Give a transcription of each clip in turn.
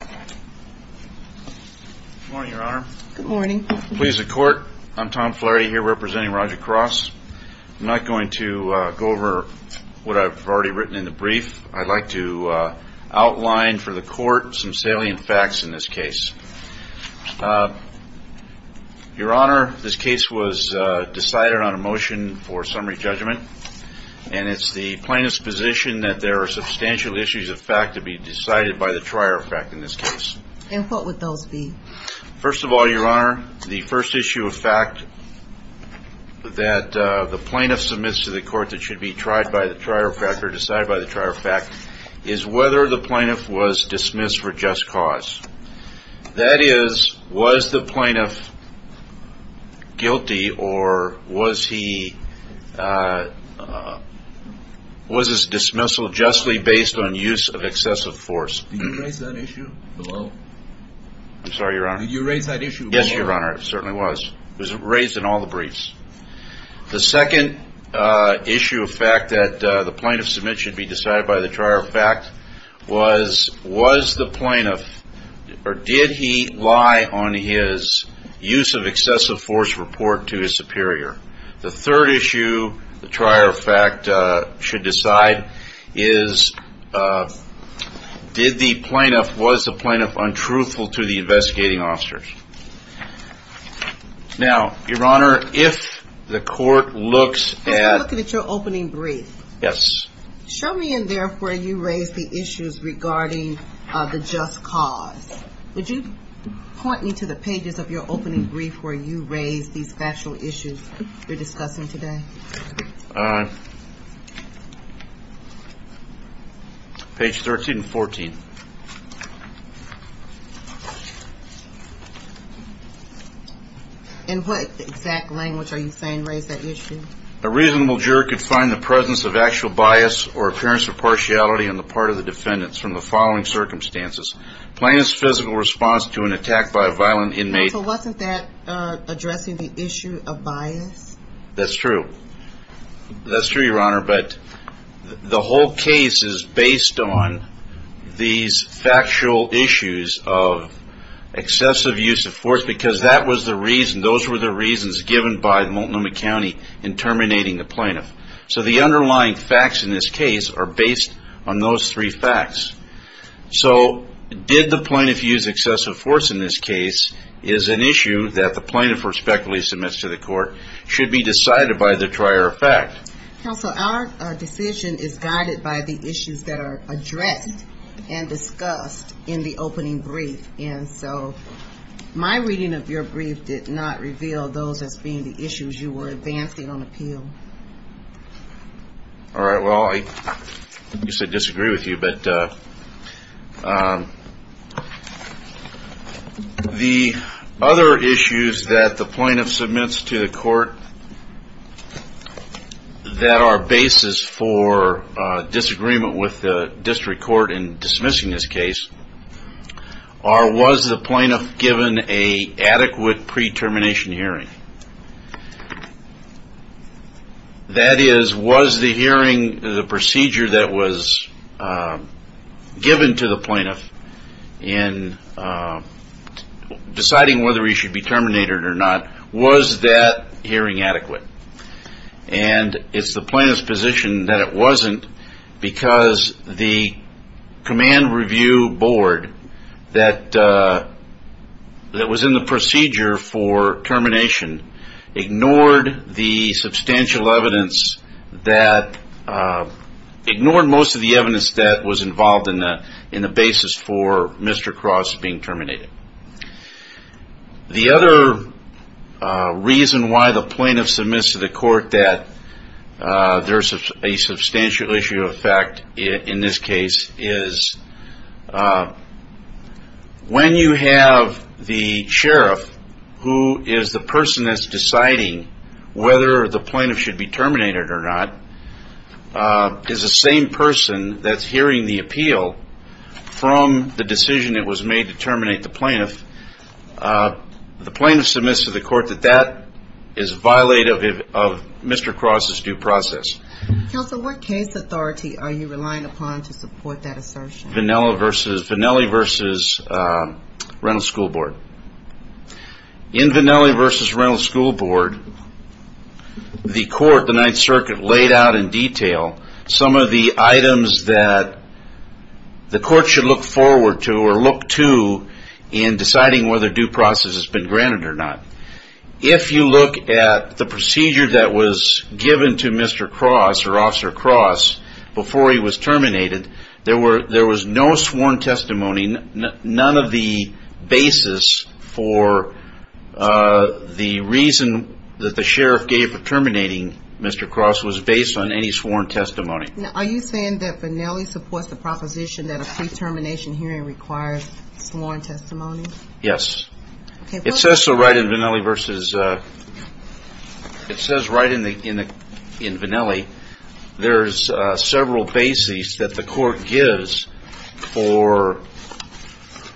Good morning, Your Honor. Good morning. Please, the Court, I'm Tom Flaherty here representing Roger Cross. I'm not going to go over what I've already written in the brief. I'd like to outline for the Court some salient facts in this case. Your Honor, this case was decided on a motion for summary judgment, and it's the plaintiff's position that there are substantial issues of fact to be decided by the trier of fact in this case. And what would those be? First of all, Your Honor, the first issue of fact that the plaintiff submits to the Court that should be tried by the trier of fact or decided by the trier of fact is whether the plaintiff was dismissed for just cause. That is, was the plaintiff guilty or was his dismissal justly based on use of excessive force. Did you raise that issue? Hello? I'm sorry, Your Honor. Did you raise that issue? Yes, Your Honor, I certainly was. It was raised in all the briefs. The second issue of fact that the plaintiff submits should be decided by the trier of fact was, was the plaintiff or did he lie on his use of excessive force to report to his superior. The third issue the trier of fact should decide is, did the plaintiff, was the plaintiff untruthful to the investigating officers? Now, Your Honor, if the Court looks at... I'm looking at your opening brief. Yes. Show me in there where you raised the issues regarding the just cause. Would you point me to the pages of your opening brief where you raised these factual issues you're discussing today? Page 13 and 14. In what exact language are you saying raised that issue? A reasonable juror could find the presence of actual bias or appearance of partiality on the part of the defendants from the following circumstances. Plaintiff's physical response to an attack by a violent inmate. So wasn't that addressing the issue of bias? That's true. That's true, Your Honor, but the whole case is based on these factual issues of excessive use of force because that was the reason, those were the reasons given by Multnomah County in terminating the plaintiff. So the underlying facts in this case are based on those three facts. So did the plaintiff use excessive force in this case is an issue that the plaintiff respectfully submits to the Court should be decided by the prior fact. Counsel, our decision is guided by the issues that are addressed and discussed in the opening brief. And so my reading of your brief did not reveal those as being the issues you were advancing on appeal. All right. Well, I disagree with you, but the other issues that the plaintiff submits to the Court that are basis for disagreement with the District Court in dismissing this case are was the plaintiff given an adequate pre-termination hearing? That is, was the hearing, the procedure that was in effect given to the plaintiff in deciding whether he should be terminated or not, was that hearing adequate? And it's the plaintiff's position that it wasn't because the command review board that was in the procedure for termination ignored the substantial evidence that, ignored most of the evidence that was involved in the basis for Mr. Cross being terminated. The other reason why the plaintiff submits to the Court that there's a substantial issue of fact in this case is when you have the sheriff who is the person that's deciding whether the plaintiff should be terminated or not is the same person that's hearing the appeal from the decision that was made to terminate the plaintiff. The plaintiff submits to the Court that that is violative of Mr. Cross' due process. Counsel, what case authority are you relying upon to support that assertion? Vannelli v. Rental School Board. In Vannelli v. Rental School Board, the Court, the Ninth Circuit, laid out in detail some of the items that the Court should look forward to or look to in deciding whether due process has been granted or not. If you look at the procedure that was given to Mr. Cross or Officer Cross before he was terminated, there was no sworn testimony, none of the basis for Mr. Cross to be terminated. The reason that the sheriff gave for terminating Mr. Cross was based on any sworn testimony. Are you saying that Vannelli supports the proposition that a pre-termination hearing requires sworn testimony? Yes. It says so right in Vannelli v. Rental School Board. It says right in Vannelli there's several bases that the Court gives for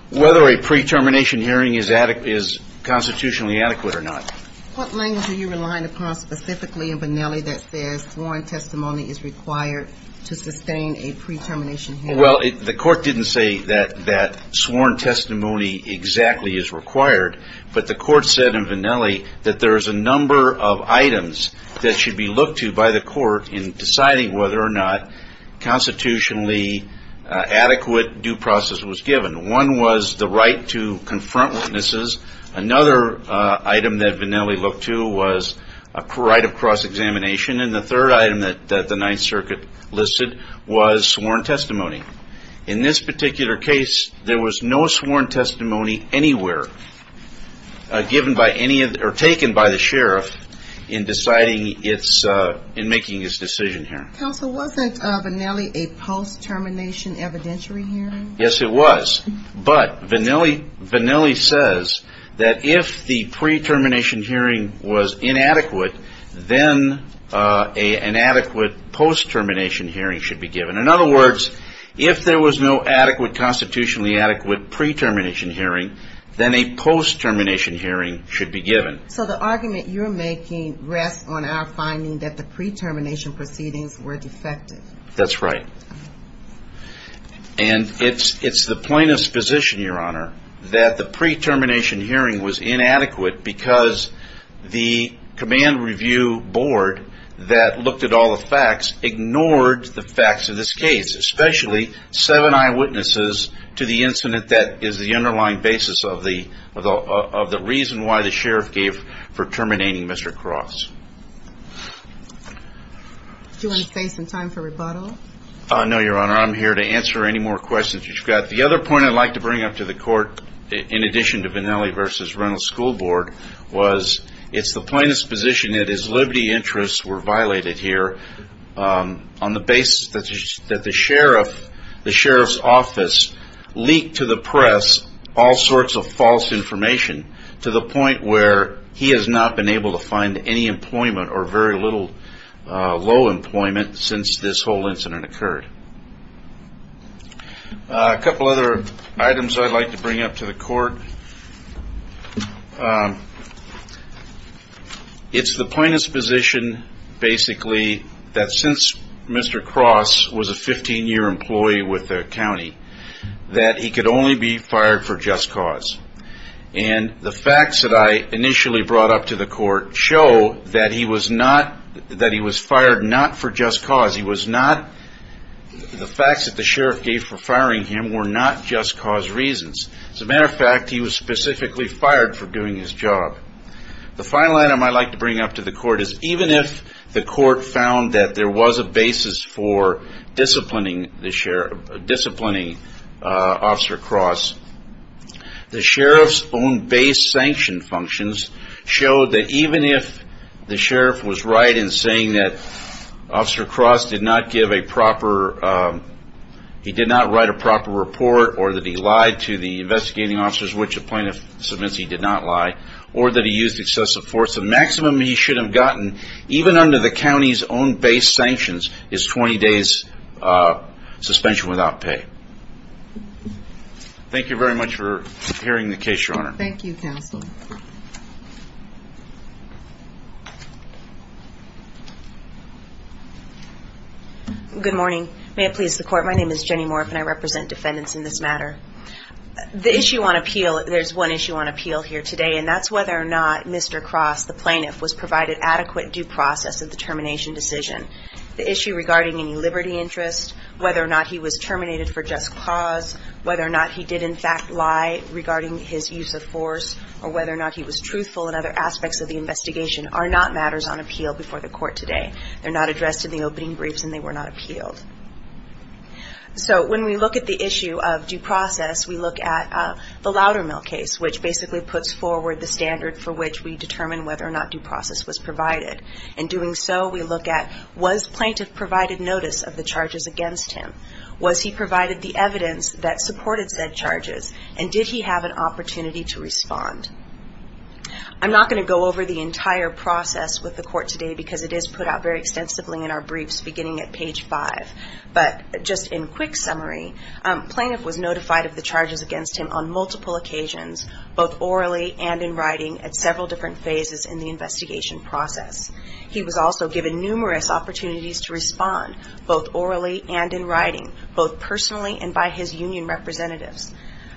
whether a pre-termination hearing is constitutionally adequate or not. What language are you relying upon specifically in Vannelli that says sworn testimony is required to sustain a pre-termination hearing? Well, the Court didn't say that sworn testimony exactly is required, but the Court said in Vannelli that there's a number of items that should be looked to by the Court in deciding whether or not constitutionally adequate due process was given. One was the right to confront witnesses. Another item that Vannelli looked to was a right of cross-examination. And the third item that the Ninth Circuit listed was sworn testimony. In this particular case, there was no sworn testimony anywhere given by any or taken by the sheriff in deciding its, in making his decision here. Counsel, wasn't Vannelli a post-termination evidentiary hearing? Yes, it was. But Vannelli says that if the pre-termination hearing was inadequate, then an adequate post-termination hearing should be given. In other words, if there was no adequately constitutionally adequate pre-termination hearing, then a post-termination hearing should be given. So the argument you're making rests on our finding that the pre-termination proceedings were defective. That's right. And it's the plaintiff's position, Your Honor, that the pre-termination hearing was inadequate because the command review board that looked at all the facts ignored the facts of this case, especially seven eyewitnesses to the incident that is the underlying basis of the reason why the sheriff gave for terminating Mr. Cross. Do you want to save some time for rebuttal? No, Your Honor. I'm here to answer any more questions you've got. The other point I'd like to bring up to the Court, in addition to Vannelli v. Rental School Board, was it's the plaintiff's position that his liberty interests were violated here on the basis that the sheriff, the sheriff's office leaked to the press all sorts of false information to the point where he has not been able to find any employment or very little low employment since this whole incident occurred. A couple other items I'd like to bring up to the Court. It's the plaintiff's position basically that since Mr. Cross was a 15-year employee with the county that he could only be fired for just cause. And the facts that I initially brought up to the Court show that he was fired not for just cause. The facts that the sheriff gave for firing him were not just cause reasons. As a matter of fact, he was specifically fired for doing his job. The final item I'd like to bring up to the Court is even if the Court found that there was a basis for disciplining Officer Cross, the sheriff's own base sanction functions showed that even if the sheriff was right in saying that Officer Cross did not give a proper, he did not write a proper report or that he lied to the investigating officers, which the plaintiff submits he did not lie, or that he used excessive force, the maximum he should have gotten even under the county's own base sanctions is 20 days suspension without pay. Thank you very much for hearing the case, Your Honor. Thank you, Counsel. Good morning. May it please the Court, my name is Jenny Morriff and I represent defendants in this matter. The issue on appeal, there's one issue on appeal here today and that's whether or not Mr. Cross, the plaintiff, was a determination decision. The issue regarding any liberty interest, whether or not he was terminated for just cause, whether or not he did, in fact, lie regarding his use of force, or whether or not he was truthful in other aspects of the investigation, are not matters on appeal before the Court today. They're not addressed in the opening briefs and they were not appealed. So when we look at the issue of due process, we look at the Loudermill case, which basically puts forward the standard for which we determine whether or not due process was provided. In doing so, we look at, was plaintiff provided notice of the charges against him? Was he provided the evidence that supported said charges? And did he have an opportunity to respond? I'm not going to go over the entire process with the Court today because it is put out very extensively in our briefs beginning at page 5. But just in quick summary, plaintiff was notified of the charges against him on the investigation process. He was also given numerous opportunities to respond, both orally and in writing, both personally and by his union representatives.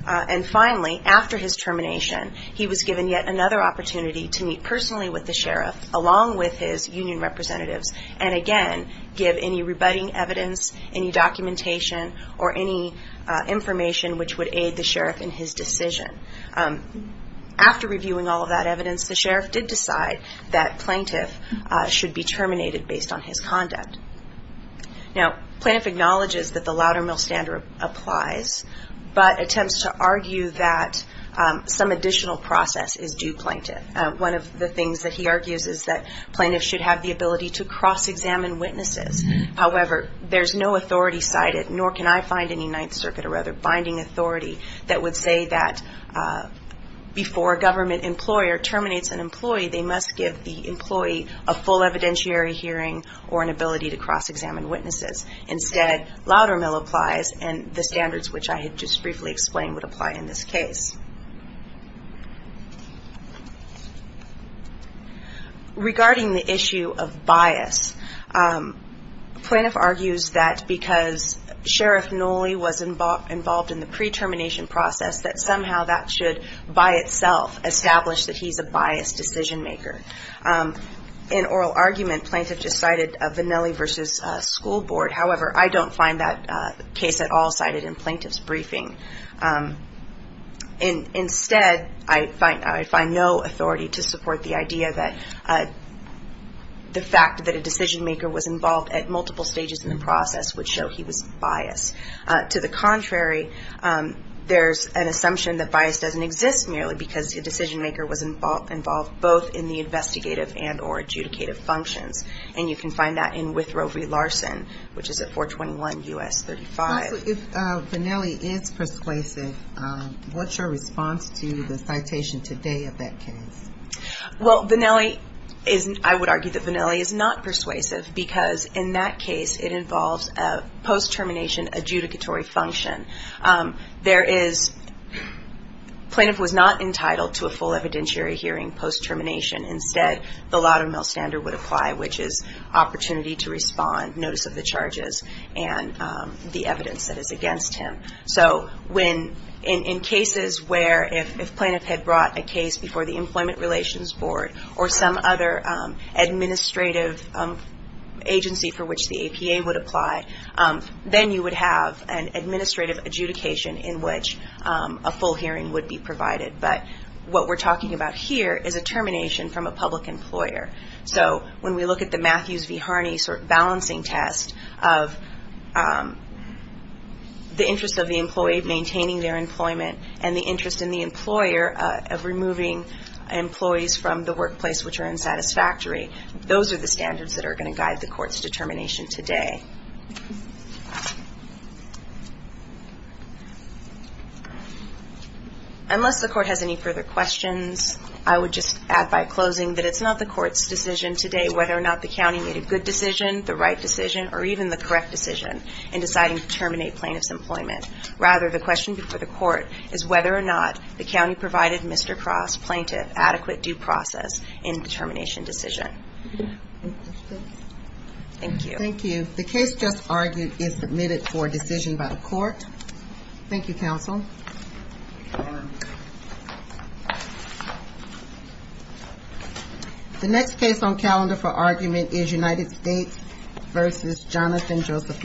And finally, after his termination, he was given yet another opportunity to meet personally with the sheriff along with his union representatives, and again, give any rebutting evidence, any documentation, or any information which would aid the sheriff in his decision. After reviewing all of that he was notified that plaintiff should be terminated based on his conduct. Now, plaintiff acknowledges that the Loudermill standard applies, but attempts to argue that some additional process is due plaintiff. One of the things that he argues is that plaintiffs should have the ability to cross-examine witnesses. However, there's no authority cited, nor can I find any Ninth Circuit or other binding authority that would say that before a government employer terminates an employee, they must give the employee a full evidentiary hearing or an ability to cross-examine witnesses. Instead, Loudermill applies, and the standards which I had just briefly explained would apply in this case. Regarding the issue of bias, plaintiff argues that because Sheriff Nolley was involved in the pre-termination process, that somehow that should, by itself, establish that he's a biased decision-maker. In oral argument, plaintiff just cited a Vannelli v. School Board. However, I don't find that case at all cited in plaintiff's briefing. Instead, I find no authority to support the idea that the fact that a decision-maker was involved at multiple stages in the process would show he was biased. To the contrary, there's an assumption that bias doesn't exist merely because the decision-maker was involved both in the investigative and or adjudicative functions. And you can find that in Withrovery-Larson, which is at 421 U.S. 35. So if Vannelli is persuasive, what's your response to the citation today of that case? Well, Vannelli is, I would argue that Vannelli is not persuasive because in that case it involves a post-termination adjudicatory function. There is, plaintiff was not entitled to a full evidentiary hearing post-termination. Instead, the laudamil standard would apply, which is opportunity to respond, notice of the charges, and the evidence that is against him. So in cases where if plaintiff had brought a case before the Employment Relations Board or some other administrative agency for which the APA would apply, then you would have an administrative adjudication in which a full hearing would be provided. But what we're talking about here is a termination from a public employer. So when we look at the Matthews and Harney sort of balancing test of the interest of the employee maintaining their employment and the interest in the employer of removing employees from the workplace which are unsatisfactory, those are the standards that are going to guide the court's determination today. Unless the court has any further questions, I would just add by closing that it's not the court's decision today whether or not the county made a good decision, the right decision, or even the correct decision in deciding to terminate plaintiff's employment. Rather, the question before the court is whether or not the county provided Mr. Cross, plaintiff, adequate due process in the termination decision. Thank you. Thank you. The case just argued is submitted for decision by the court. Thank you, counsel. The next case on calendar for argument is United States v. Jonathan Joseph Lincoln.